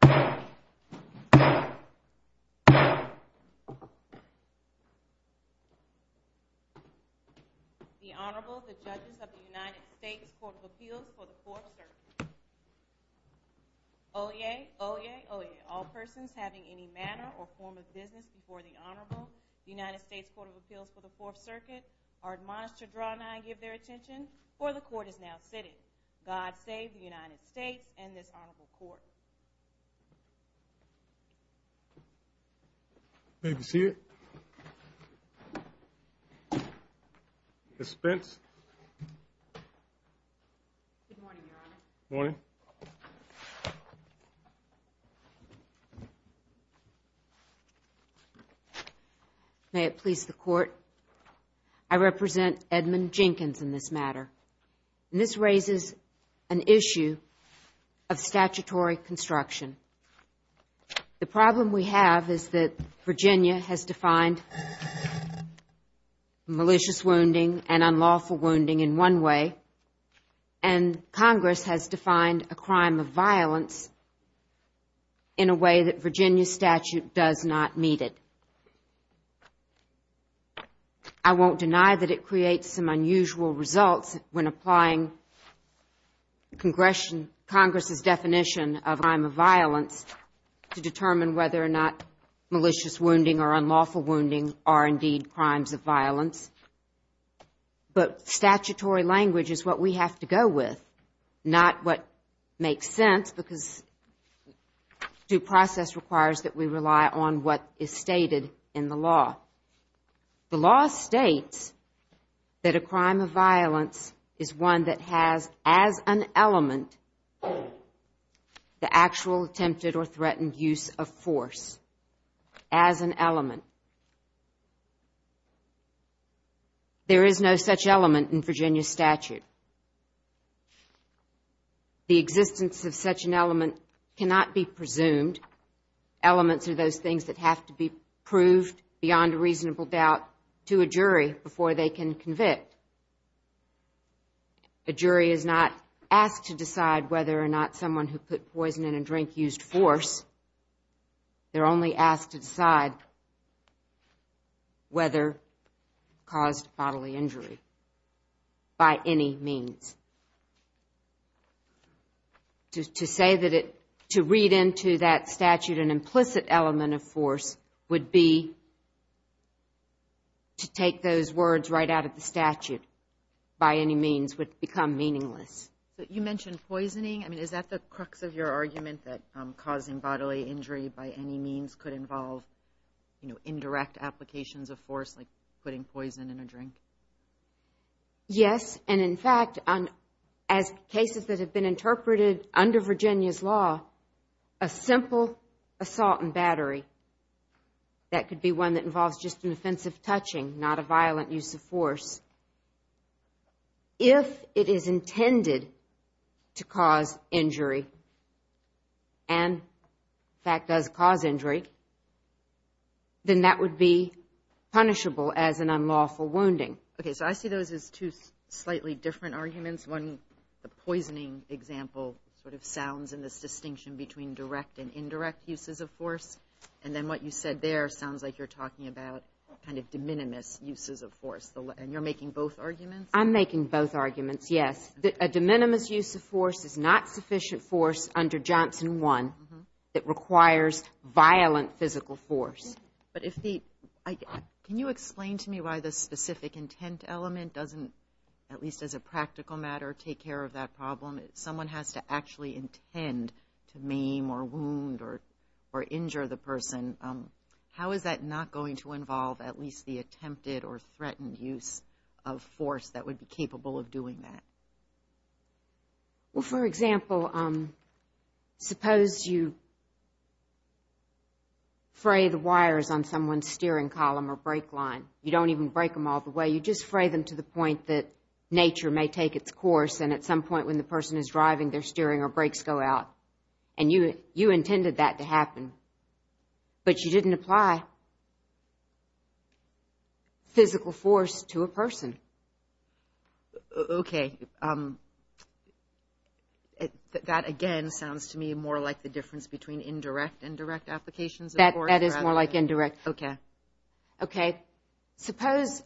The Honorable, the Judges of the United States Court of Appeals for the Fourth Circuit. Oyez, oyez, oyez, all persons having any manner or form of business before the Honorable, the United States Court of Appeals for the Fourth Circuit, are admonished to draw nigh and give their attention, for the Court is now sitting. God save the United States and this Honorable Court. May it please the Court, I represent Edmund Jenkins in this matter. This raises an issue of statutory construction. The problem we have is that Virginia has defined malicious wounding and unlawful wounding in one way, and Congress has defined a crime of violence in a way that Virginia statute does not meet it. I won't deny that it creates some unusual results when applying Congress's definition of crime of violence to determine whether or not malicious wounding or unlawful wounding are indeed crimes of violence. But statutory language is what we have to go with, not what makes sense because due process requires that we rely on what is stated in the law. The law states that a crime of violence is one that has as an element the actual attempted or threatened use of force, as an element. There is no such element in Virginia statute. The existence of such an element cannot be presumed. Elements are those things that have to be proved beyond a reasonable doubt to a jury before they can convict. A jury is not asked to decide whether or not someone who put poison in a drink used force. They're only asked to decide whether caused bodily injury by any means. To say that it, to read into that statute an implicit element of force would be to take those words right out of the statute by any means would become meaningless. You mentioned poisoning. I mean, is that the crux of your argument that causing bodily injury by any means could involve, you know, indirect applications of force like putting poison in a drink? Yes, and in fact, as cases that have been interpreted under Virginia's law, a simple assault and battery, that could be one that involves just an offensive touching, not a violent use of force. If it is intended to cause injury and in fact does cause injury, then that would be punishable as an unlawful wounding. Okay, so I see those as two slightly different arguments. One, the poisoning example sort of sounds in this distinction between direct and indirect uses of force. And then what you said there sounds like you're talking about kind of de minimis uses of force. And you're making both arguments? I'm making both arguments, yes. A de minimis use of force is not sufficient force under Johnson 1 that requires violent physical force. But if the, can you explain to me why the specific intent element doesn't, at least as a practical matter, take care of that problem? Someone has to actually intend to maim or wound or injure the person. How is that not going to involve at least the attempted or threatened use of force that would be capable of doing that? Well, for example, suppose you fray the wires on someone's steering column or brake line. You don't even break them all the way. You just fray them to the point that nature may take its course. And at some point when the person is driving, their steering or brakes go out. And you intended that to happen, but you didn't apply physical force to a person. Okay. That, again, sounds to me more like the difference between indirect and direct applications of force. That is more like indirect. Okay. Suppose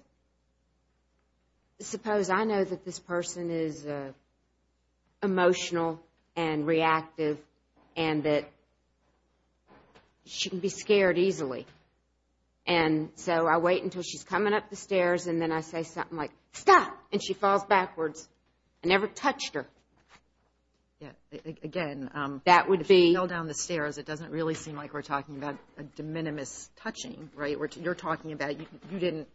I know that this person is emotional and reactive and that she can be scared easily. And so I wait until she's coming up the stairs, and then I say something like, stop, and she falls backwards. I never touched her. Again, if she fell down the stairs, it doesn't really seem like we're talking about a de minimis touching, right? You're talking about you didn't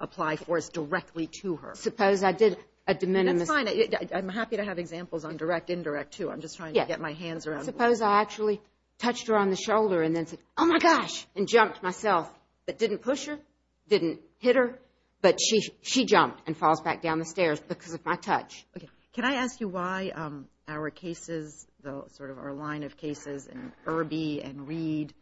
apply force directly to her. Suppose I did a de minimis. That's fine. I'm happy to have examples on direct, indirect, too. I'm just trying to get my hands around. Suppose I actually touched her on the shoulder and then said, oh, my gosh, and jumped myself, but didn't push her, didn't hit her. But she jumped and falls back down the stairs because of my touch. Okay. Can I ask you why our cases, sort of our line of cases in Irby and Reed,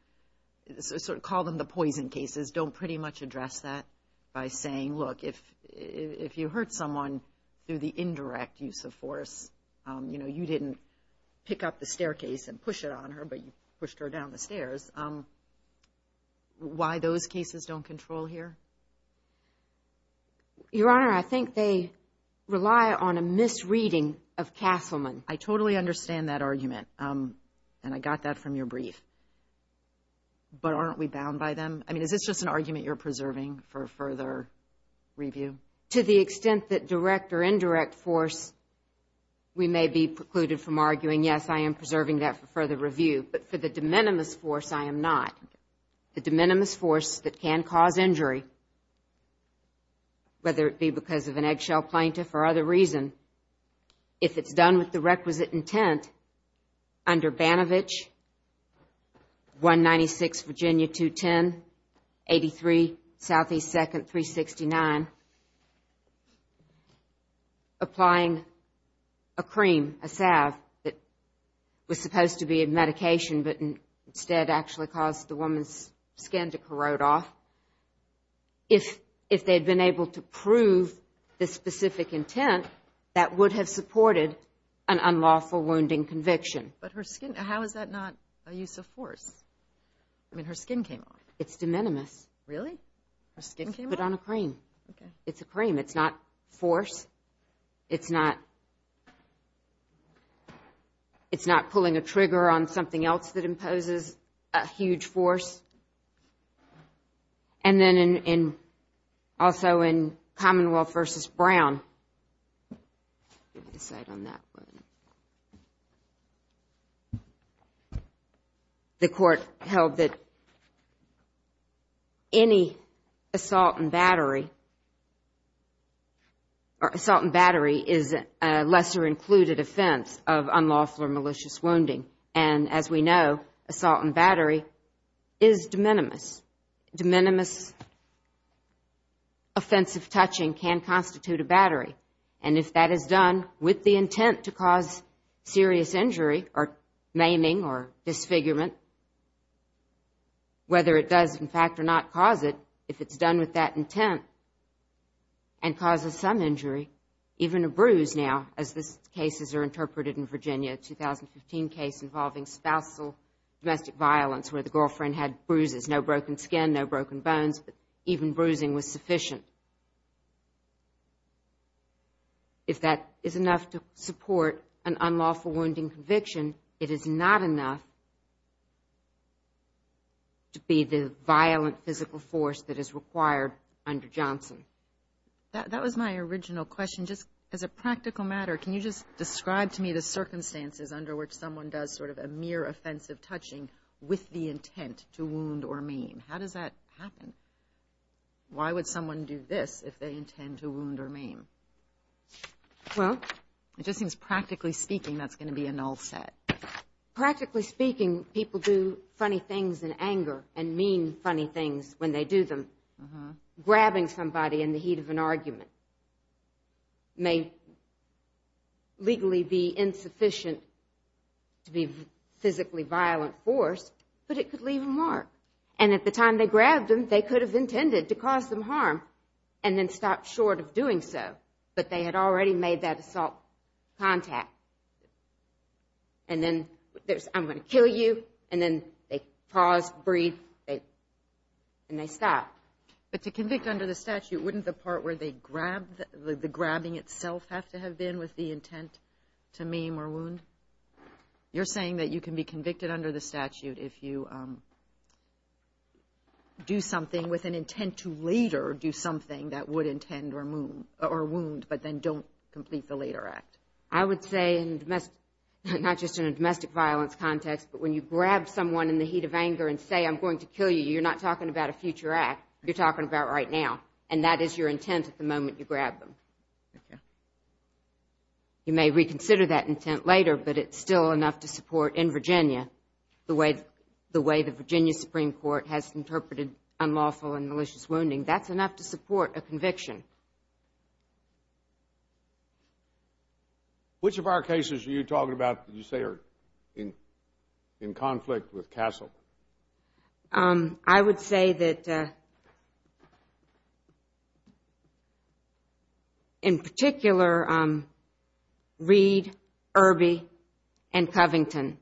sort of call them the poison cases, don't pretty much address that by saying, look, if you hurt someone through the indirect use of force, you know, you didn't pick up the staircase and push it on her, but you pushed her down the stairs. Why those cases don't control here? Your Honor, I think they rely on a misreading of Castleman. I totally understand that argument, and I got that from your brief. But aren't we bound by them? I mean, is this just an argument you're preserving for further review? To the extent that direct or indirect force, we may be precluded from arguing, yes, I am preserving that for further review. But for the de minimis force, I am not. The de minimis force that can cause injury, whether it be because of an eggshell plaintiff or other reason, if it's done with the requisite intent under Banovich, 196 Virginia 210, 83 Southeast 2nd, 369, applying a cream, a salve that was supposed to be a medication but instead actually caused the woman's skin to corrode off, if they'd been able to prove the specific intent, that would have supported an unlawful wounding conviction. But her skin, how is that not a use of force? I mean, her skin came off. It's de minimis. Really? Her skin came off? I put on a cream. Okay. It's a cream. It's not force. It's not pulling a trigger on something else that imposes a huge force. And then also in Commonwealth v. Brown, the court held that any assault and battery is a lesser included offense of unlawful or malicious wounding. And as we know, assault and battery is de minimis. De minimis offensive touching can constitute a battery. And if that is done with the intent to cause serious injury or maiming or disfigurement, whether it does in fact or not cause it, if it's done with that intent and causes some injury, even a bruise now, as these cases are interpreted in Virginia, a 2015 case involving spousal domestic violence where the girlfriend had bruises, no broken skin, no broken bones, but even bruising was sufficient. If that is enough to support an unlawful wounding conviction, it is not enough to be the violent physical force that is required under Johnson. That was my original question. Just as a practical matter, can you just describe to me the circumstances under which someone does sort of a mere offensive touching with the intent to wound or maim? How does that happen? Why would someone do this if they intend to wound or maim? Well, it just seems practically speaking that's going to be a null set. Practically speaking, people do funny things in anger and mean funny things when they do them. Grabbing somebody in the heat of an argument may legally be insufficient to be physically violent force, but it could leave a mark. And at the time they grabbed them, they could have intended to cause them harm and then stopped short of doing so, but they had already made that assault contact. And then there's, I'm going to kill you, and then they pause, breathe, and they stop. But to convict under the statute, wouldn't the part where they grabbed, the grabbing itself have to have been with the intent to maim or wound? You're saying that you can be convicted under the statute if you do something with an intent to later do something that would intend or wound, but then don't complete the later act. I would say not just in a domestic violence context, but when you grab someone in the heat of anger and say, I'm going to kill you, you're not talking about a future act. You're talking about right now, and that is your intent at the moment you grab them. You may reconsider that intent later, but it's still enough to support in Virginia the way the Virginia Supreme Court has interpreted unlawful and malicious wounding. That's enough to support a conviction. Which of our cases are you talking about that you say are in conflict with Castle? I would say that in particular, Reed, Irby, and Covington.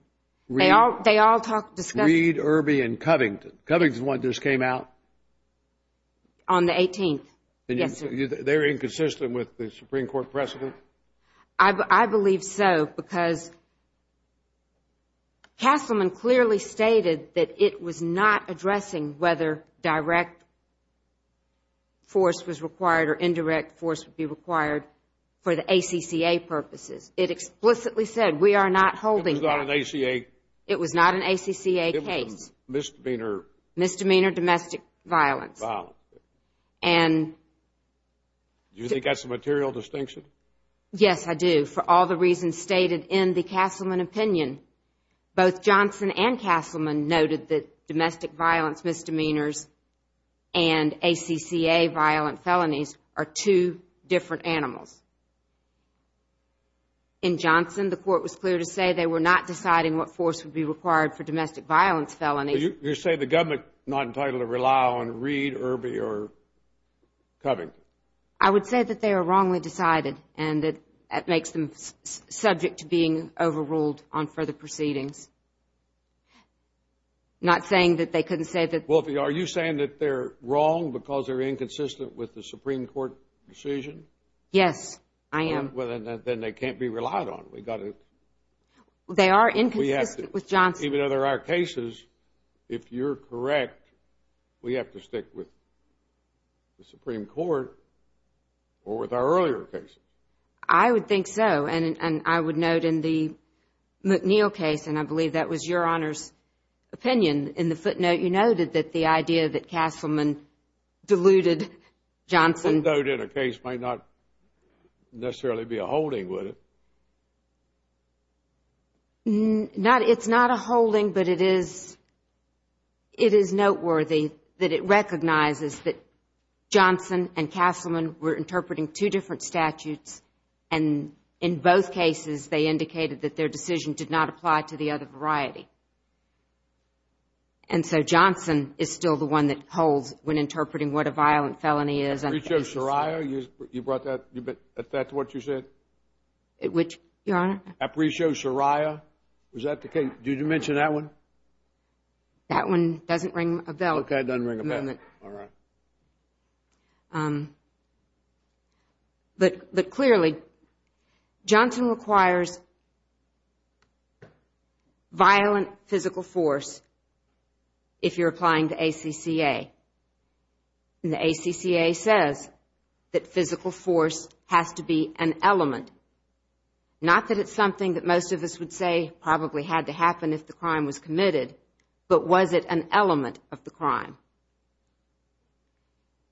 Reed, Irby, and Covington. Covington's one just came out? On the 18th, yes, sir. They're inconsistent with the Supreme Court precedent? I believe so because Castleman clearly stated that it was not addressing whether direct force was required or indirect force would be required for the ACCA purposes. It explicitly said we are not holding that. It was not an ACA? It was not an ACCA case. Misdemeanor? Misdemeanor domestic violence. Wow. Do you think that's a material distinction? Yes, I do. For all the reasons stated in the Castleman opinion, both Johnson and Castleman noted that domestic violence misdemeanors and ACCA violent felonies are two different animals. In Johnson, the court was clear to say they were not deciding what force would be You're saying the government is not entitled to rely on Reed, Irby, or Covington? I would say that they are wrongly decided, and that makes them subject to being overruled on further proceedings. Not saying that they couldn't say that. Are you saying that they're wrong because they're inconsistent with the Supreme Court decision? Yes, I am. Then they can't be relied on. They are inconsistent with Johnson. Even though they're our cases, if you're correct, we have to stick with the Supreme Court or with our earlier cases. I would think so, and I would note in the McNeil case, and I believe that was your Honor's opinion, in the footnote you noted that the idea that Castleman deluded Johnson A footnote in a case might not necessarily be a holding, would it? It's not a holding, but it is noteworthy that it recognizes that Johnson and Castleman were interpreting two different statutes, and in both cases they indicated that their decision did not apply to the other variety. And so Johnson is still the one that holds when interpreting what a violent felony is. Apricio Soraya, you brought that to what you said? Which, Your Honor? Apricio Soraya, was that the case? Did you mention that one? That one doesn't ring a bell. Okay, it doesn't ring a bell. All right. But clearly, Johnson requires violent physical force if you're applying to ACCA. And the ACCA says that physical force has to be an element. Not that it's something that most of us would say probably had to happen if the crime was committed, but was it an element of the crime?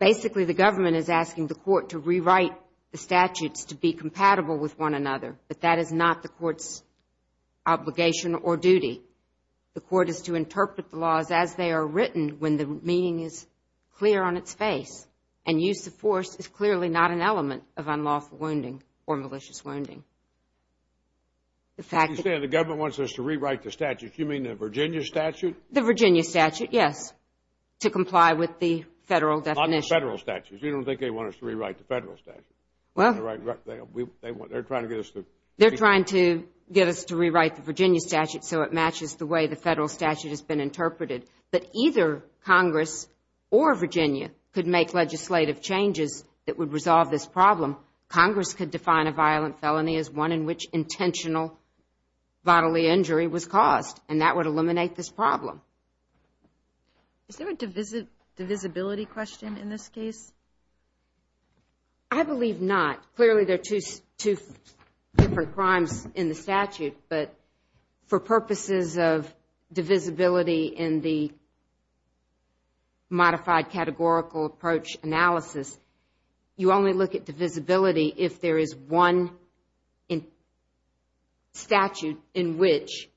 Basically, the government is asking the court to rewrite the statutes to be compatible with one another, but that is not the court's obligation or duty. The court is to interpret the laws as they are written when the meaning is clear on its face, and use of force is clearly not an element of unlawful wounding or malicious wounding. You're saying the government wants us to rewrite the statutes. You mean the Virginia statute? The Virginia statute, yes, to comply with the Federal definition. Not the Federal statute. You don't think they want us to rewrite the Federal statute. Well, they're trying to get us to. So it matches the way the Federal statute has been interpreted. But either Congress or Virginia could make legislative changes that would resolve this problem. Congress could define a violent felony as one in which intentional bodily injury was caused, and that would eliminate this problem. Is there a divisibility question in this case? I believe not. Clearly there are two different crimes in the statute, but for purposes of divisibility in the modified categorical approach analysis, you only look at divisibility if there is one statute in which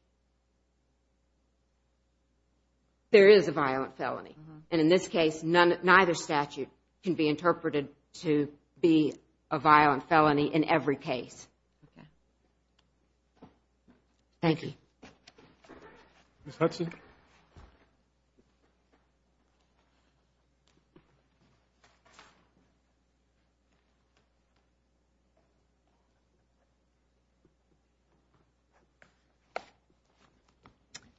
there is a violent felony. And in this case, neither statute can be interpreted to be a violent felony in every case. Thank you. Ms. Hudson?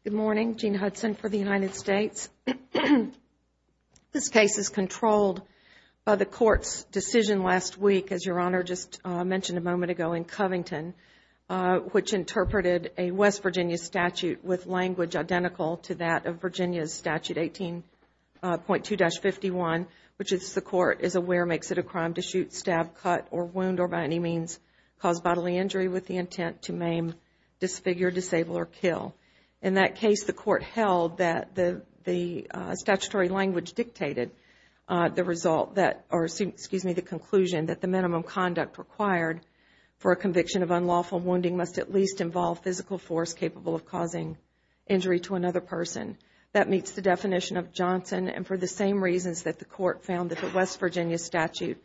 Good morning. Good morning. Jean Hudson for the United States. This case is controlled by the Court's decision last week, as Your Honor just mentioned a moment ago, in Covington, which interpreted a West Virginia statute with language identical to that of Virginia's Statute 18.2-51, which is the Court is aware makes it a crime to shoot, stab, cut, or wound, or by any means cause bodily injury with the intent to maim, disfigure, disable, or kill. In that case, the Court held that the statutory language dictated the result that, or excuse me, the conclusion that the minimum conduct required for a conviction of unlawful wounding must at least involve physical force capable of causing injury to another person. That meets the definition of Johnson, and for the same reasons that the Court found that the West Virginia statute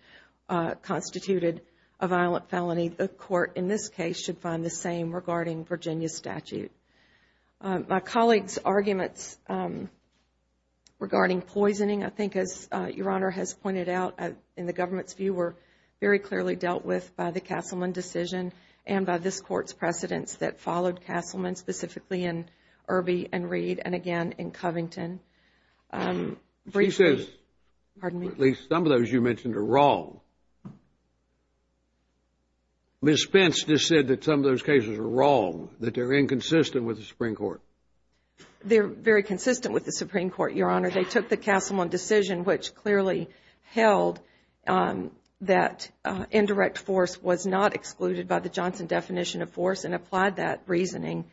constituted a violent felony, the Court in this case should find the same regarding Virginia's statute. My colleague's arguments regarding poisoning, I think, as Your Honor has pointed out, in the government's view were very clearly dealt with by the Castleman decision and by this Court's precedents that followed Castleman, specifically in Irby and Reed, and again in Covington. She says, or at least some of those you mentioned, are wrong. Ms. Spence just said that some of those cases are wrong, that they're inconsistent with the Supreme Court. They're very consistent with the Supreme Court, Your Honor. They took the Castleman decision, which clearly held that indirect force was not excluded by the Johnson definition of force and applied that reasoning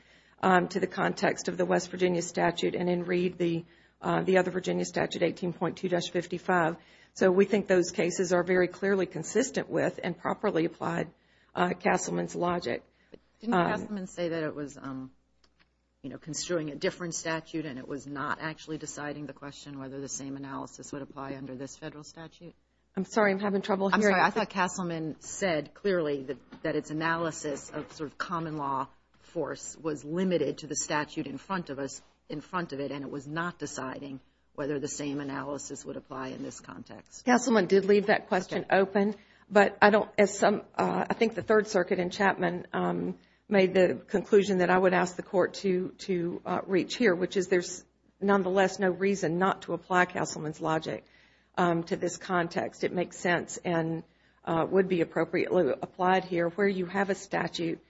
to the context of the West Virginia statute and in Reed, the other Virginia statute, 18.2-55. So we think those cases are very clearly consistent with and properly applied Castleman's logic. Didn't Castleman say that it was, you know, construing a different statute and it was not actually deciding the question whether the same analysis would apply under this Federal statute? I'm sorry, I'm having trouble hearing. I'm sorry, I thought Castleman said clearly that its analysis of sort of common law force was limited to the statute in front of us, in front of it, and it was not deciding whether the same analysis would apply in this context. Castleman did leave that question open, but I don't, as some, I think the Third Circuit in Chapman made the conclusion that I would ask the Court to reach here, which is there's nonetheless no reason not to apply Castleman's logic to this context. It makes sense and would be appropriately applied here where you have a statute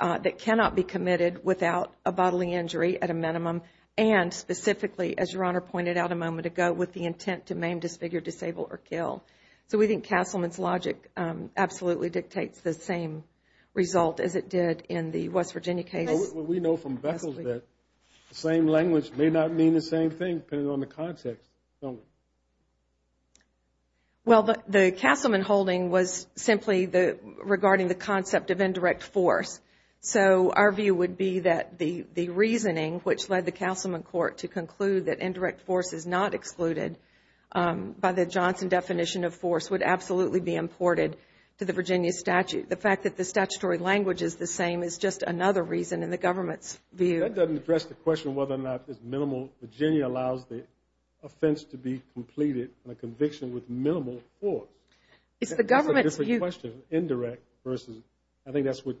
that cannot be committed without a bodily injury at a minimum and specifically, as Your Honor pointed out a moment ago, with the intent to maim, disfigure, disable, or kill. So we think Castleman's logic absolutely dictates the same result as it did in the West Virginia case. We know from Bessel's that the same language may not mean the same thing depending on the context, don't we? Well, the Castleman holding was simply regarding the concept of indirect force. So our view would be that the reasoning, which led the Castleman court to conclude that indirect force is not excluded by the Johnson definition of force, would absolutely be imported to the Virginia statute. The fact that the statutory language is the same is just another reason in the government's view. That doesn't address the question of whether or not it's minimal. Virginia allows the offense to be completed on a conviction with minimal force. It's the government's view. That's a different question, indirect versus, I think that's what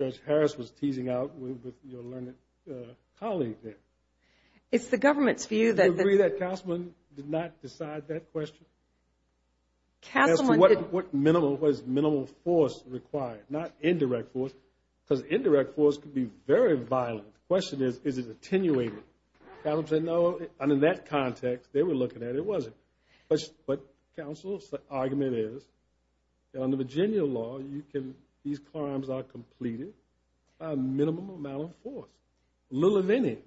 Judge Harris was teasing out with your learned colleague there. It's the government's view that the- Do you agree that Castleman did not decide that question? Castleman did- As to what minimal, what is minimal force required, not indirect force? Because indirect force could be very violent. The question is, is it attenuated? Castleman said no, and in that context, they were looking at it wasn't. But counsel's argument is that under Virginia law, these crimes are completed by a minimum amount of force, little or many.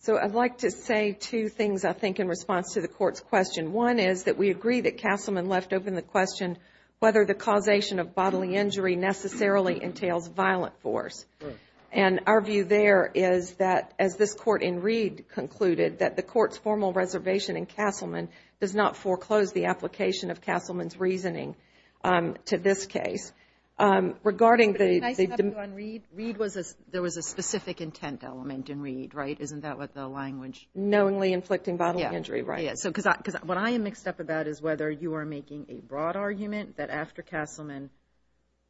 So I'd like to say two things, I think, in response to the court's question. One is that we agree that Castleman left open the question whether the causation of bodily injury necessarily entails violent force. And our view there is that, as this court in Reed concluded, that the court's formal reservation in Castleman does not foreclose the application of Castleman's reasoning to this case. Regarding the- Can I stop you on Reed? Reed was a, there was a specific intent element in Reed, right? Isn't that what the language- Knowingly inflicting bodily injury, right? Yeah. Because what I am mixed up about is whether you are making a broad argument that after Castleman,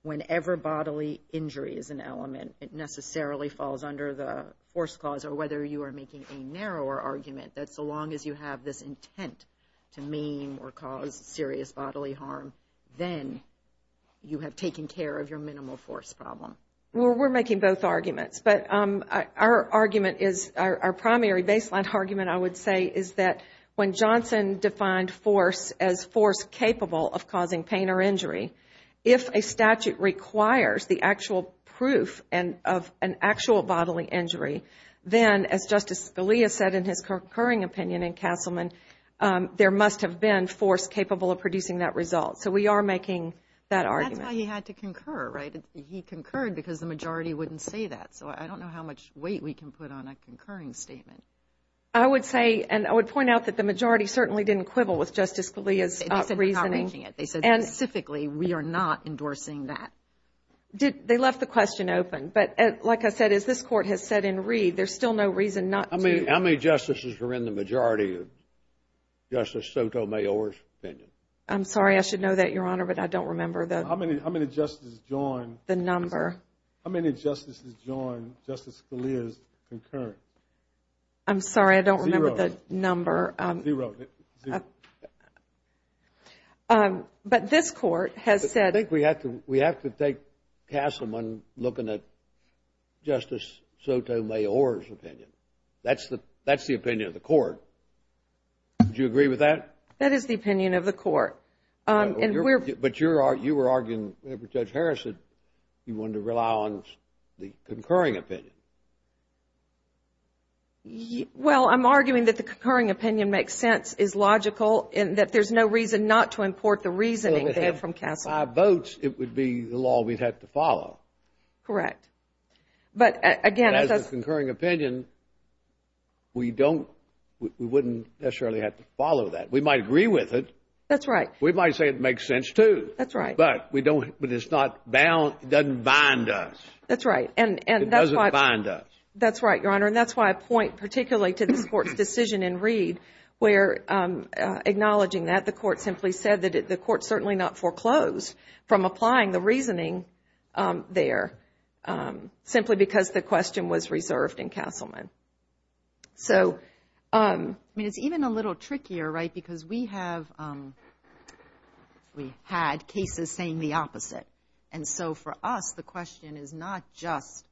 whenever bodily injury is an element, it necessarily falls under the force clause, or whether you are making a narrower argument, that so long as you have this intent to mean or cause serious bodily harm, then you have taken care of your minimal force problem. Well, we're making both arguments. But our argument is, our primary baseline argument, I would say, is that when Johnson defined force as force capable of causing pain or injury, if a statute requires the actual proof of an actual bodily injury, then, as Justice Scalia said in his concurring opinion in Castleman, there must have been force capable of producing that result. So we are making that argument. That's why he had to concur, right? He concurred because the majority wouldn't say that. So I don't know how much weight we can put on a concurring statement. I would say, and I would point out, that the majority certainly didn't quibble with Justice Scalia's reasoning. They said we're not making it. They said, specifically, we are not endorsing that. They left the question open. But like I said, as this Court has said in Reed, there's still no reason not to. How many justices are in the majority of Justice Sotomayor's opinion? I'm sorry, I should know that, Your Honor, but I don't remember. How many justices join? The number. I'm sorry, I don't remember the number. Zero. But this Court has said. I think we have to take Castleman looking at Justice Sotomayor's opinion. That's the opinion of the Court. Would you agree with that? That is the opinion of the Court. But you were arguing, Judge Harrison, you wanted to rely on the concurring opinion. Well, I'm arguing that the concurring opinion makes sense, is logical, and that there's no reason not to import the reasoning there from Castleman. By votes, it would be the law we'd have to follow. Correct. But, again, as a concurring opinion, we wouldn't necessarily have to follow that. We might agree with it. That's right. We might say it makes sense, too. That's right. But it's not bound, it doesn't bind us. That's right. It doesn't bind us. That's right, Your Honor, and that's why I point particularly to this Court's decision in Reed where, acknowledging that, the Court simply said that the Court certainly not foreclosed from applying the reasoning there simply because the question was reserved in Castleman. So, I mean, it's even a little trickier, right, because we have had cases saying the opposite. And so, for us, the question is not just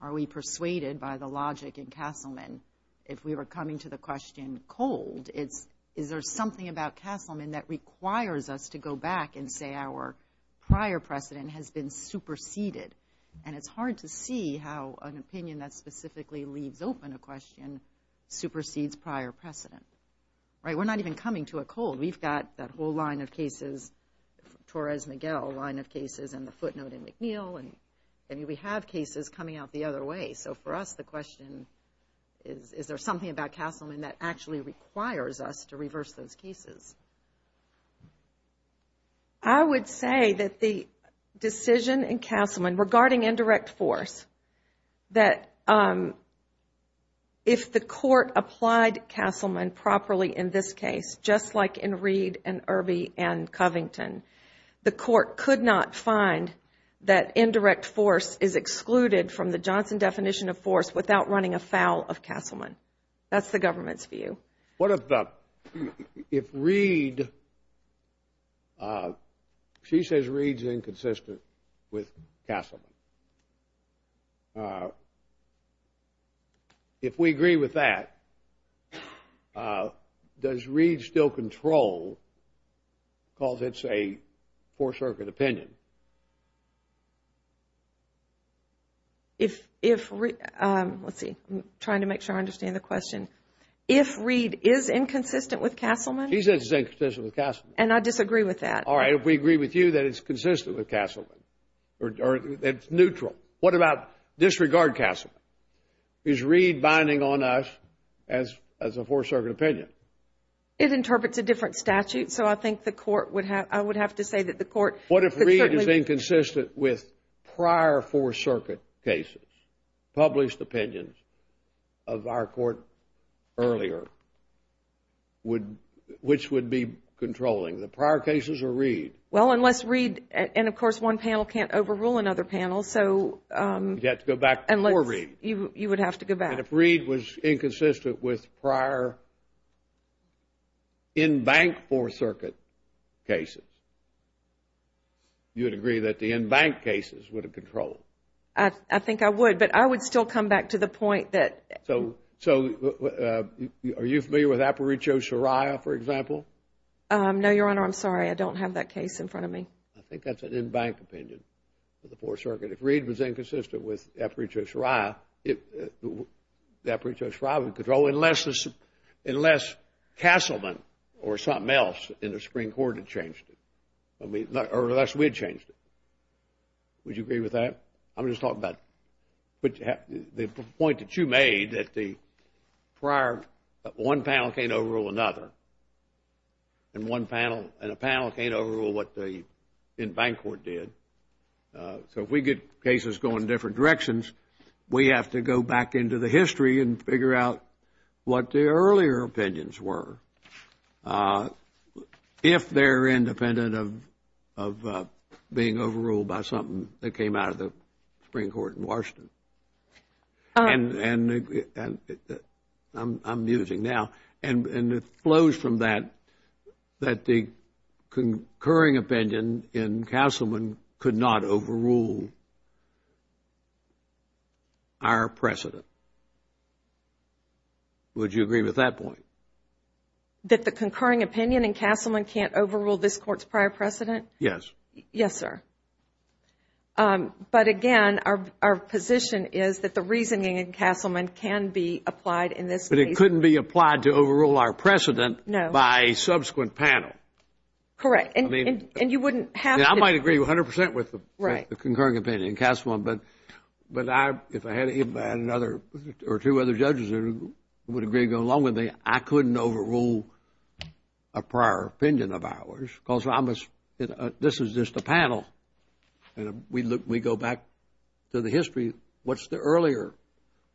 are we persuaded by the logic in Castleman. If we were coming to the question cold, is there something about Castleman that requires us to go back and say our prior precedent has been superseded? And it's hard to see how an opinion that specifically leaves open a question supersedes prior precedent. Right? We're not even coming to a cold. We've got that whole line of cases, Torres-Miguel line of cases, and the footnote in McNeil, and we have cases coming out the other way. So, for us, the question is is there something about Castleman that actually requires us to reverse those cases? I would say that the decision in Castleman regarding indirect force, that if the Court applied Castleman properly in this case, just like in Reed and Irby and Covington, the Court could not find that indirect force is excluded from the Johnson definition of force without running afoul of Castleman. That's the government's view. What if Reed, she says Reed's inconsistent with Castleman. If we agree with that, does Reed still control because it's a four-circuit opinion? Let's see. I'm trying to make sure I understand the question. If Reed is inconsistent with Castleman. She says it's inconsistent with Castleman. And I disagree with that. All right. If we agree with you that it's consistent with Castleman, or it's neutral, what about disregard Castleman? Is Reed binding on us as a four-circuit opinion? It interprets a different statute, so I think the Court would have to say that the Court. What if Reed is inconsistent with prior four-circuit cases, published opinions of our Court earlier, which would be controlling, the prior cases or Reed? Well, unless Reed, and, of course, one panel can't overrule another panel, so. You'd have to go back before Reed. You would have to go back. And if Reed was inconsistent with prior in-bank four-circuit cases, you would agree that the in-bank cases would have controlled? I think I would, but I would still come back to the point that. So, are you familiar with Aparicio-Soraya, for example? No, Your Honor. I'm sorry. I don't have that case in front of me. with Aparicio-Soraya, the Aparicio-Soraya would control unless Castleman or something else in the Supreme Court had changed it, or unless we had changed it. Would you agree with that? I'm just talking about the point that you made that the prior, one panel can't overrule another, and a panel can't overrule what the in-bank court did. So, if we get cases going different directions, we have to go back into the history and figure out what the earlier opinions were, if they're independent of being overruled by something that came out of the Supreme Court in Washington. And I'm using now, and it flows from that, that the concurring opinion in Castleman could not overrule our precedent. Would you agree with that point? That the concurring opinion in Castleman can't overrule this Court's prior precedent? Yes. Yes, sir. But, again, our position is that the reasoning in Castleman can be applied in this case. But it couldn't be applied to overrule our precedent by a subsequent panel. Correct. And you wouldn't have to. Yeah, I might agree 100 percent with the concurring opinion in Castleman, but if I had another or two other judges who would agree to go along with me, I couldn't overrule a prior opinion of ours because this is just a panel. And we go back to the history. What's the earlier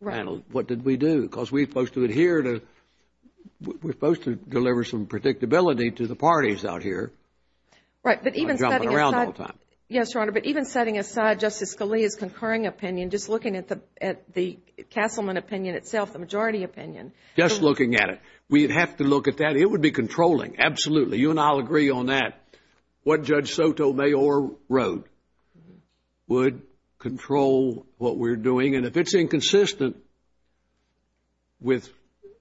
panel? What did we do? Because we're supposed to adhere to, we're supposed to deliver some predictability to the parties out here. Right. But even setting aside. I'm jumping around all the time. Yes, Your Honor, but even setting aside Justice Scalia's concurring opinion, just looking at the Castleman opinion itself, the majority opinion. Just looking at it. We'd have to look at that. It would be controlling. Absolutely. You and I will agree on that. What Judge Sotomayor wrote would control what we're doing. And if it's inconsistent with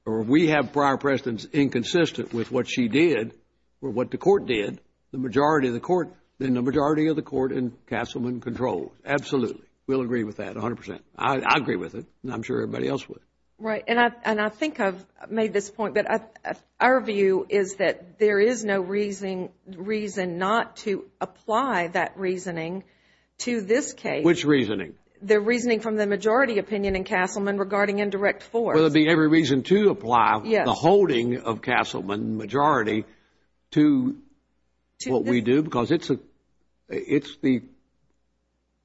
or we have prior precedents inconsistent with what she did or what the Court did, then the majority of the Court in Castleman controls. Absolutely. We'll agree with that 100 percent. I agree with it, and I'm sure everybody else would. Right. And I think I've made this point, but our view is that there is no reason not to apply that reasoning to this case. Which reasoning? The reasoning from the majority opinion in Castleman regarding indirect force. Well, it would be every reason to apply the holding of Castleman majority to what we do, because it's the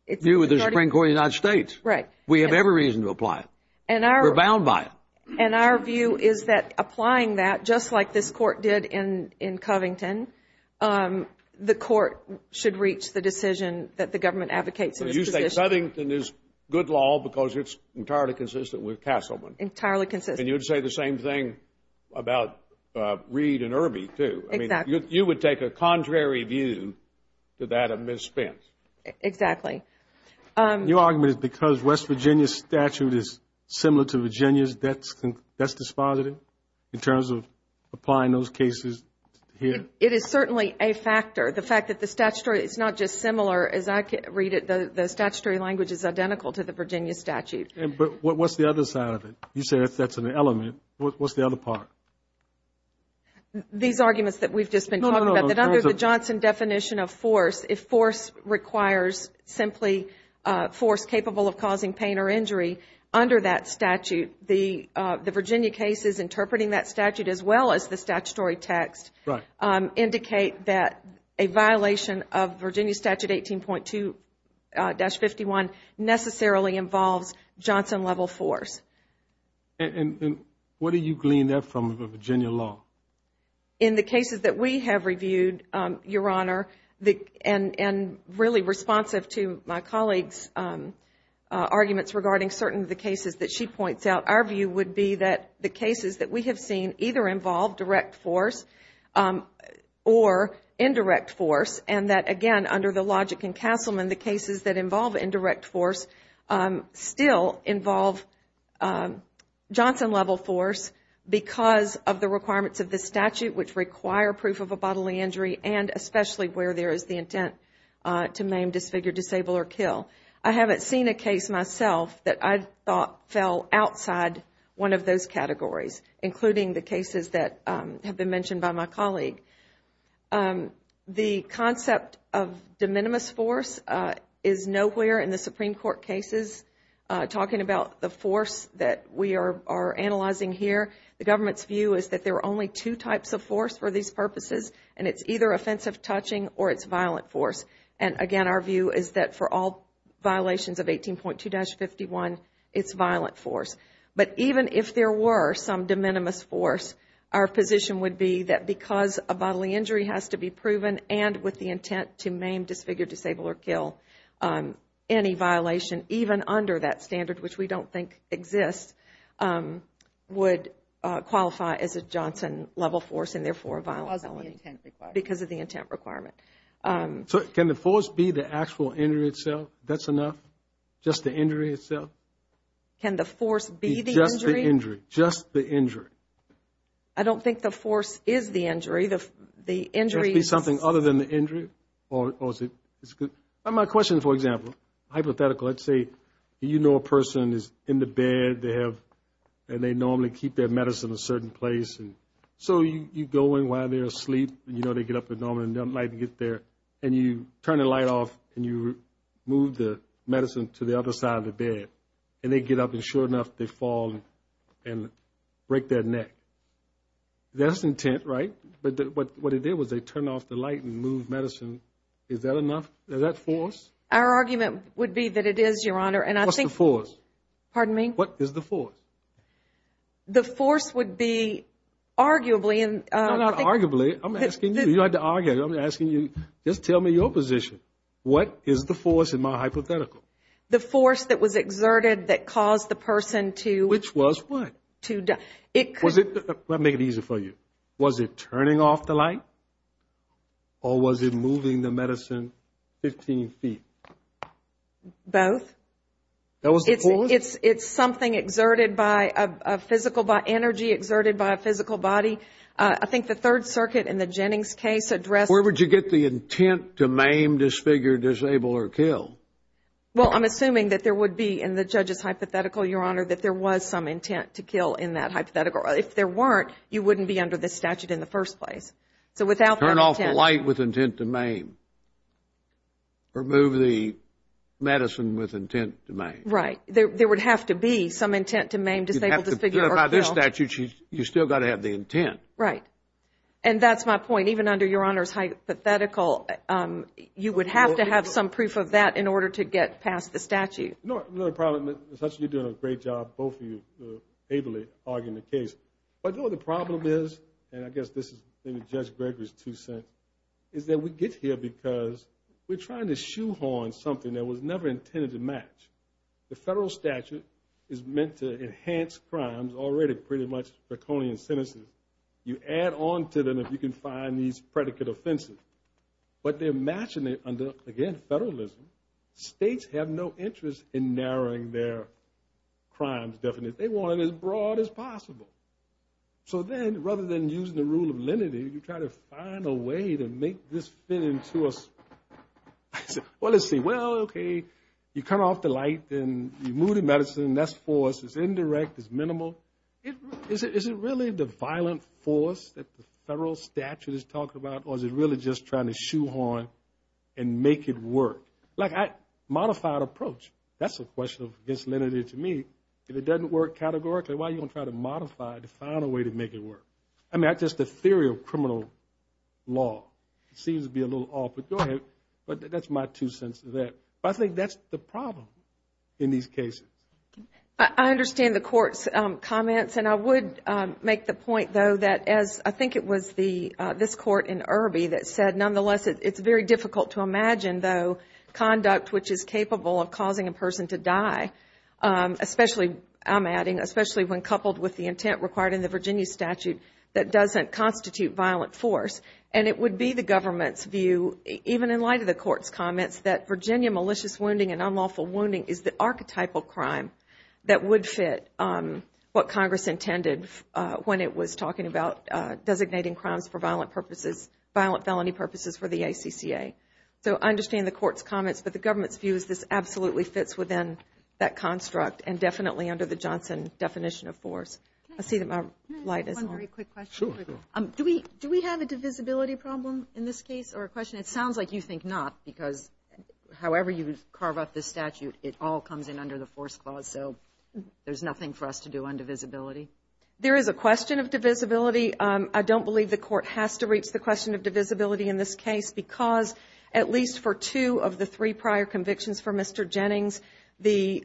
view of the Supreme Court of the United States. Right. We have every reason to apply it. We're bound by it. And our view is that applying that, just like this Court did in Covington, the Court should reach the decision that the government advocates in this position. You say Covington is good law because it's entirely consistent with Castleman. Entirely consistent. And you would say the same thing about Reed and Irby, too. Exactly. You would take a contrary view to that of Ms. Spence. Exactly. Your argument is because West Virginia's statute is similar to Virginia's, that's dispositive in terms of applying those cases here? It is certainly a factor. The fact that the statutory is not just similar as I read it. The statutory language is identical to the Virginia statute. But what's the other side of it? You say that's an element. What's the other part? These arguments that we've just been talking about. No, no, no. That under the Johnson definition of force, if force requires simply force capable of causing pain or injury, under that statute the Virginia case is interpreting that statute as well as the statutory text indicate that a violation of Virginia statute 18.2-51 necessarily involves Johnson-level force. And what do you glean there from the Virginia law? In the cases that we have reviewed, Your Honor, and really responsive to my colleague's arguments regarding certain of the cases that she points out, our view would be that the cases that we have seen either involve direct force or indirect force and that, again, under the logic in Castleman, the cases that involve indirect force still involve Johnson-level force because of the requirements of the statute, which require proof of a bodily injury and especially where there is the intent to maim, disfigure, disable, or kill. I haven't seen a case myself that I thought fell outside one of those categories, including the cases that have been mentioned by my colleague. The concept of de minimis force is nowhere in the Supreme Court cases. Talking about the force that we are analyzing here, the government's view is that there are only two types of force for these purposes and it's either offensive touching or it's violent force. And, again, our view is that for all violations of 18.2-51, it's violent force. But even if there were some de minimis force, our position would be that because a bodily injury has to be proven and with the intent to maim, disfigure, disable, or kill any violation, even under that standard, which we don't think exists, would qualify as a Johnson-level force and, therefore, a violent felony. Because of the intent requirement. Because of the intent requirement. So can the force be the actual injury itself? That's enough? Just the injury itself? Can the force be the injury? Just the injury. Just the injury. I don't think the force is the injury. Just be something other than the injury? My question, for example, hypothetical, let's say you know a person is in the bed and they normally keep their medicine in a certain place. So you go in while they're asleep and you know they get up at night and get there and you turn the light off and you move the medicine to the other side of the bed. And they get up and, sure enough, they fall and break their neck. That's intent, right? But what they did was they turned off the light and moved medicine. Is that enough? Is that force? Our argument would be that it is, Your Honor. What's the force? Pardon me? What is the force? The force would be arguably. No, not arguably. I'm asking you. You don't have to argue. I'm asking you. Just tell me your position. What is the force in my hypothetical? The force that was exerted that caused the person to. Which was what? It could. Let me make it easier for you. Was it turning off the light or was it moving the medicine 15 feet? Both. That was the force? It's something exerted by a physical energy, exerted by a physical body. I think the Third Circuit in the Jennings case addressed. Where would you get the intent to maim, disfigure, disable, or kill? Well, I'm assuming that there would be in the judge's hypothetical, Your Honor, that there was some intent to kill in that hypothetical. If there weren't, you wouldn't be under this statute in the first place. So without that intent. Turn off the light with intent to maim. Remove the medicine with intent to maim. Right. There would have to be some intent to maim, disable, disfigure, or kill. You'd have to verify this statute. You've still got to have the intent. Right. And that's my point. Even under Your Honor's hypothetical, you would have to have some proof of that in order to get past the statute. You're doing a great job, both of you, ably arguing the case. But the problem is, and I guess this is maybe Judge Gregory's two cents, is that we get here because we're trying to shoehorn something that was never intended to match. The federal statute is meant to enhance crimes, already pretty much draconian sentences. You add on to them if you can find these predicate offenses. But they're matching it under, again, federalism. States have no interest in narrowing their crimes. They want it as broad as possible. So then, rather than using the rule of lenity, you try to find a way to make this fit into a, well, let's see. Well, okay, you come off the light and you move the medicine. That's force. It's indirect. It's minimal. Is it really the violent force that the federal statute is talking about, or is it really just trying to shoehorn and make it work? Modified approach, that's a question of lenity to me. If it doesn't work categorically, why are you going to try to modify it to find a way to make it work? I mean, that's just the theory of criminal law. It seems to be a little off, but go ahead. But that's my two cents to that. But I think that's the problem in these cases. I understand the Court's comments, and I would make the point, though, that as I think it was this Court in Irby that said, nonetheless, it's very difficult to imagine, though, conduct which is capable of causing a person to die, especially, I'm adding, especially when coupled with the intent required in the Virginia statute that doesn't constitute violent force. And it would be the government's view, even in light of the Court's comments, that Virginia malicious wounding and unlawful wounding is the archetypal crime that would fit what Congress intended when it was talking about designating crimes for violent purposes, violent felony purposes for the ACCA. So I understand the Court's comments, but the government's view is this absolutely fits within that construct and definitely under the Johnson definition of force. I see that my light is on. Can I ask one very quick question? Sure. Do we have a divisibility problem in this case or a question? It sounds like you think not, because however you carve up the statute, it all comes in under the force clause, so there's nothing for us to do on divisibility. There is a question of divisibility. I don't believe the Court has to reach the question of divisibility in this case because at least for two of the three prior convictions for Mr. Jennings, the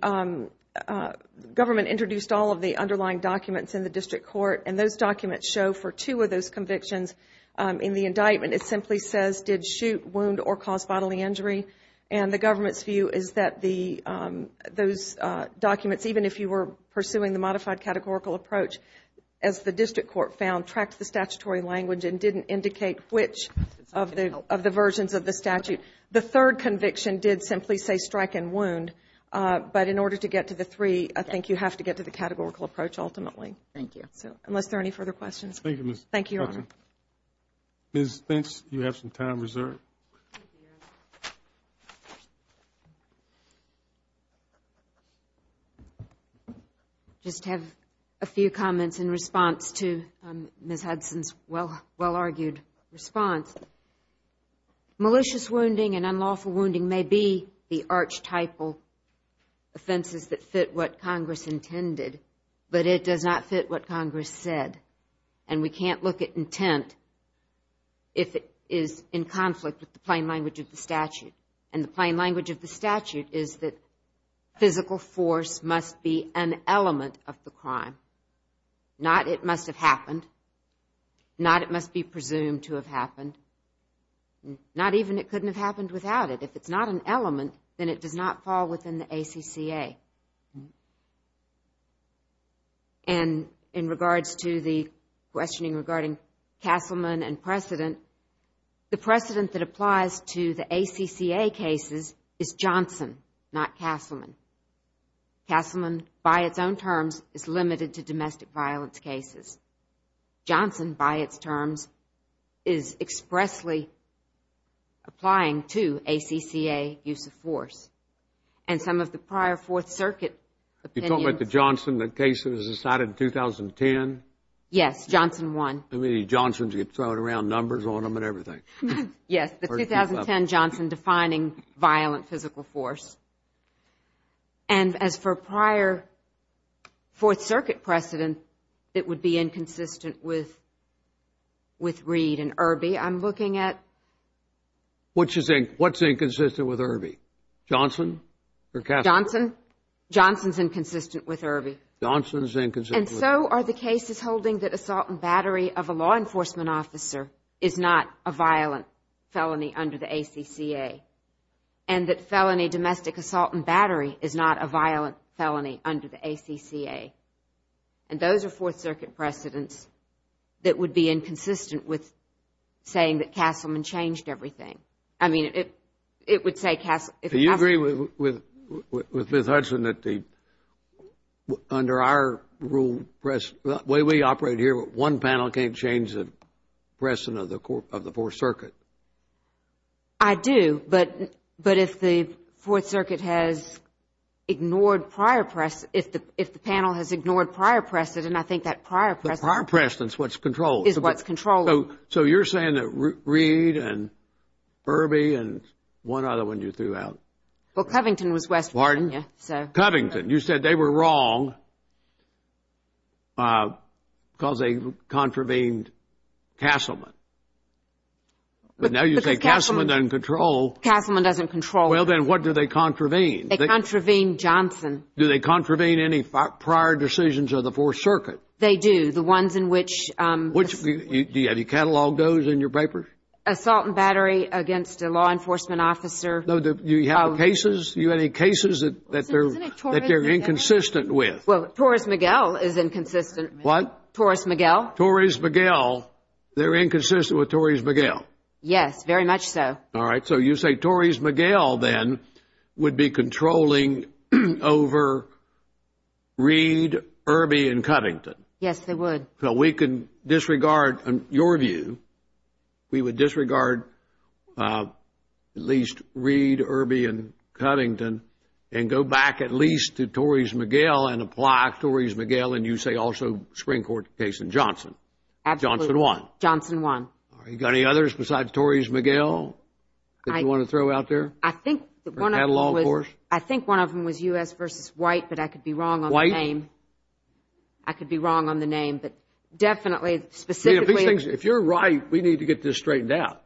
government introduced all of the underlying documents in the district court, and those documents show for two of those convictions in the indictment, it simply says did shoot, wound, or cause bodily injury. And the government's view is that those documents, even if you were pursuing the modified categorical approach, as the district court found, tracked the statutory language and didn't indicate which of the versions of the statute. The third conviction did simply say strike and wound, but in order to get to the three, I think you have to get to the categorical approach ultimately. Thank you. Unless there are any further questions. Thank you. Thank you, Your Honor. Ms. Finch, you have some time reserved. Thank you, Your Honor. I just have a few comments in response to Ms. Hudson's well-argued response. Malicious wounding and unlawful wounding may be the archetypal offenses that fit what Congress intended, but it does not fit what Congress said, and we can't look at intent if it is in conflict with the plain language of the statute. And the plain language of the statute is that physical force must be an element of the crime, not it must have happened, not it must be presumed to have happened, not even it couldn't have happened without it. If it's not an element, then it does not fall within the ACCA. And in regards to the questioning regarding Castleman and precedent, the precedent that applies to the ACCA cases is Johnson, not Castleman. Castleman, by its own terms, is limited to domestic violence cases. Johnson, by its terms, is expressly applying to ACCA use of force. And some of the prior Fourth Circuit opinions... You're talking about the Johnson case that was decided in 2010? Yes, Johnson won. How many Johnsons? You throw around numbers on them and everything. Yes, the 2010 Johnson defining violent physical force. And as for prior Fourth Circuit precedent, it would be inconsistent with Reed and Irby. I'm looking at... What's inconsistent with Irby, Johnson or Castleman? Johnson. Johnson's inconsistent with Irby. Johnson's inconsistent with Irby. And so are the cases holding that assault and battery of a law enforcement officer is not a violent felony under the ACCA, and that domestic assault and battery is not a violent felony under the ACCA. And those are Fourth Circuit precedents that would be inconsistent with saying that Castleman changed everything. I mean, it would say Castleman... Do you agree with Ms. Hudson that under our rule, the way we operate here, one panel can't change the precedent of the Fourth Circuit? I do, but if the Fourth Circuit has ignored prior precedent, if the panel has ignored prior precedent, I think that prior precedent... The prior precedent is what's controlled. ...is what's controlled. So you're saying that Reed and Irby and one other one you threw out. Well, Covington was West Virginia. Pardon? Covington. You said they were wrong because they contravened Castleman. But now you say Castleman doesn't control. Castleman doesn't control. Well, then what do they contravene? They contravene Johnson. Do they contravene any prior decisions of the Fourth Circuit? They do, the ones in which... Have you cataloged those in your papers? Assault and battery against a law enforcement officer. Do you have any cases that they're inconsistent with? Well, Torres-Miguel is inconsistent. What? Torres-Miguel. Torres-Miguel. They're inconsistent with Torres-Miguel? Yes, very much so. All right. So you say Torres-Miguel, then, would be controlling over Reed, Irby, and Covington. Yes, they would. So we can disregard your view. We would disregard at least Reed, Irby, and Covington and go back at least to Torres-Miguel and apply Torres-Miguel, and you say also Supreme Court case in Johnson. Absolutely. Johnson won. Johnson won. All right. You got any others besides Torres-Miguel that you want to throw out there? I think one of them was U.S. v. White, but I could be wrong on the name. White? I could be wrong on the name, but definitely, specifically. If you're right, we need to get this straightened out.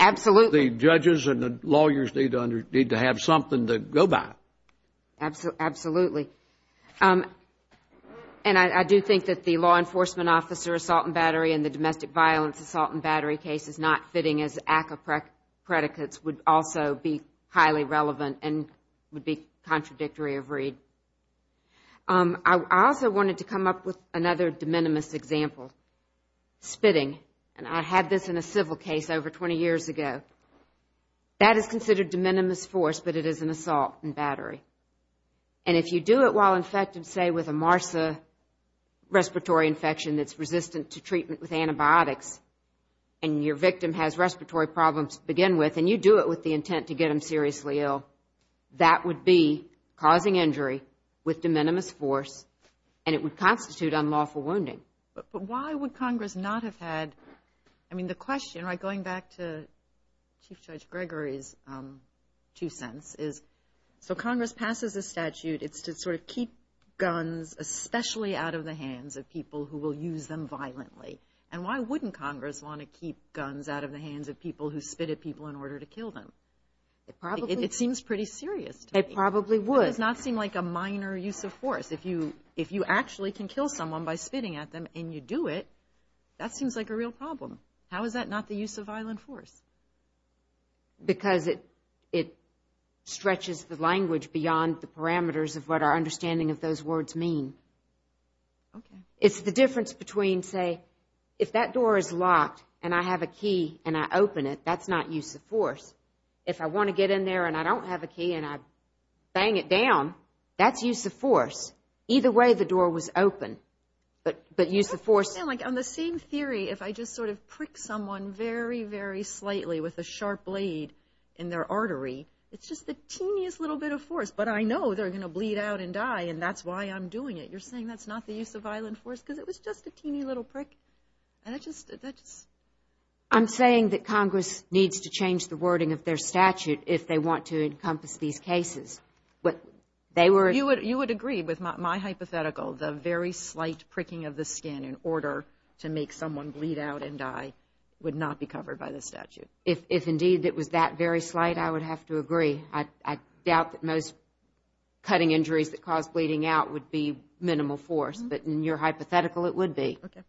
Absolutely. I mean, the judges and the lawyers need to have something to go by. Absolutely. And I do think that the law enforcement officer assault and battery and the domestic violence assault and battery case is not fitting as ACCA predicates would also be highly relevant and would be contradictory of Reed. I also wanted to come up with another de minimis example, spitting. And I had this in a civil case over 20 years ago. That is considered de minimis force, but it is an assault and battery. And if you do it while infected, say, with a MRSA respiratory infection that's resistant to treatment with antibiotics and your victim has respiratory problems to begin with and you do it with the intent to get them seriously ill, that would be causing injury with de minimis force and it would constitute unlawful wounding. But why would Congress not have had, I mean, the question, right, going back to Chief Judge Gregory's two cents is, so Congress passes a statute. It's to sort of keep guns especially out of the hands of people who will use them violently. And why wouldn't Congress want to keep guns out of the hands of people who spit at people in order to kill them? It seems pretty serious to me. It probably would. It does not seem like a minor use of force. If you actually can kill someone by spitting at them and you do it, that seems like a real problem. How is that not the use of violent force? Because it stretches the language beyond the parameters of what our understanding of those words mean. Okay. It's the difference between, say, if that door is locked and I have a key and I open it, that's not use of force. If I want to get in there and I don't have a key and I bang it down, that's use of force. Either way, the door was open, but use of force. On the same theory, if I just sort of prick someone very, very slightly with a sharp blade in their artery, it's just the teeniest little bit of force, but I know they're going to bleed out and die, and that's why I'm doing it. You're saying that's not the use of violent force? Because it was just a teeny little prick. I'm saying that Congress needs to change the wording of their statute if they want to encompass these cases. You would agree with my hypothetical. The very slight pricking of the skin in order to make someone bleed out and die would not be covered by the statute. If indeed it was that very slight, I would have to agree. I doubt that most cutting injuries that cause bleeding out would be minimal force, but in your hypothetical, it would be. Okay.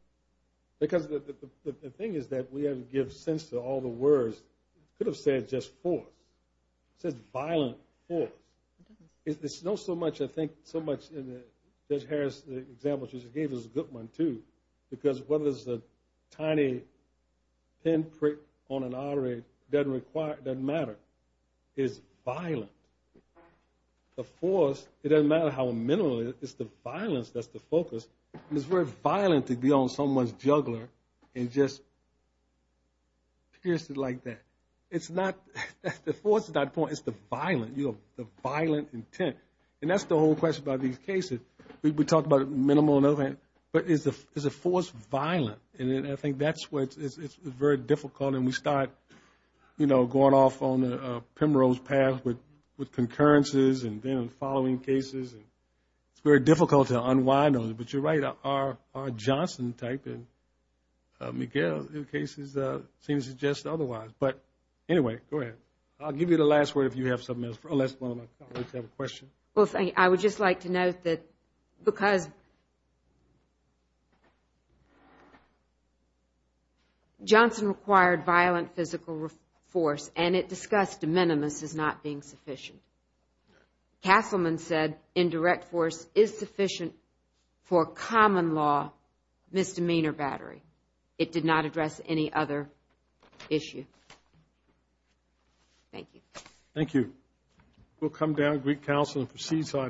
Because the thing is that we haven't given sense to all the words. You could have said just force. It says violent force. It's not so much, I think, so much in Judge Harris' example, which she gave us a good one too, because whether it's a tiny, thin prick on an artery doesn't matter. It's violent. The force, it doesn't matter how minimal it is. It's the violence that's the focus. It's very violent to be on someone's jugular and just pierce it like that. The force is not the point. It's the violent intent. And that's the whole question about these cases. We talked about minimal and other things, but is a force violent? And I think that's what's very difficult, and we start going off on the Pembroke's path with concurrences and then following cases, and it's very difficult to unwind on it. But you're right, our Johnson type and Miguel's cases seem to suggest otherwise. But anyway, go ahead. I'll give you the last word if you have something else. Unless, well, I can't wait to have a question. I would just like to note that because Johnson required violent physical force and it discussed de minimis as not being sufficient, Castleman said indirect force is sufficient for a common law misdemeanor battery. It did not address any other issue. Thank you. Thank you. We'll come down to Greek Council and proceed to our next case.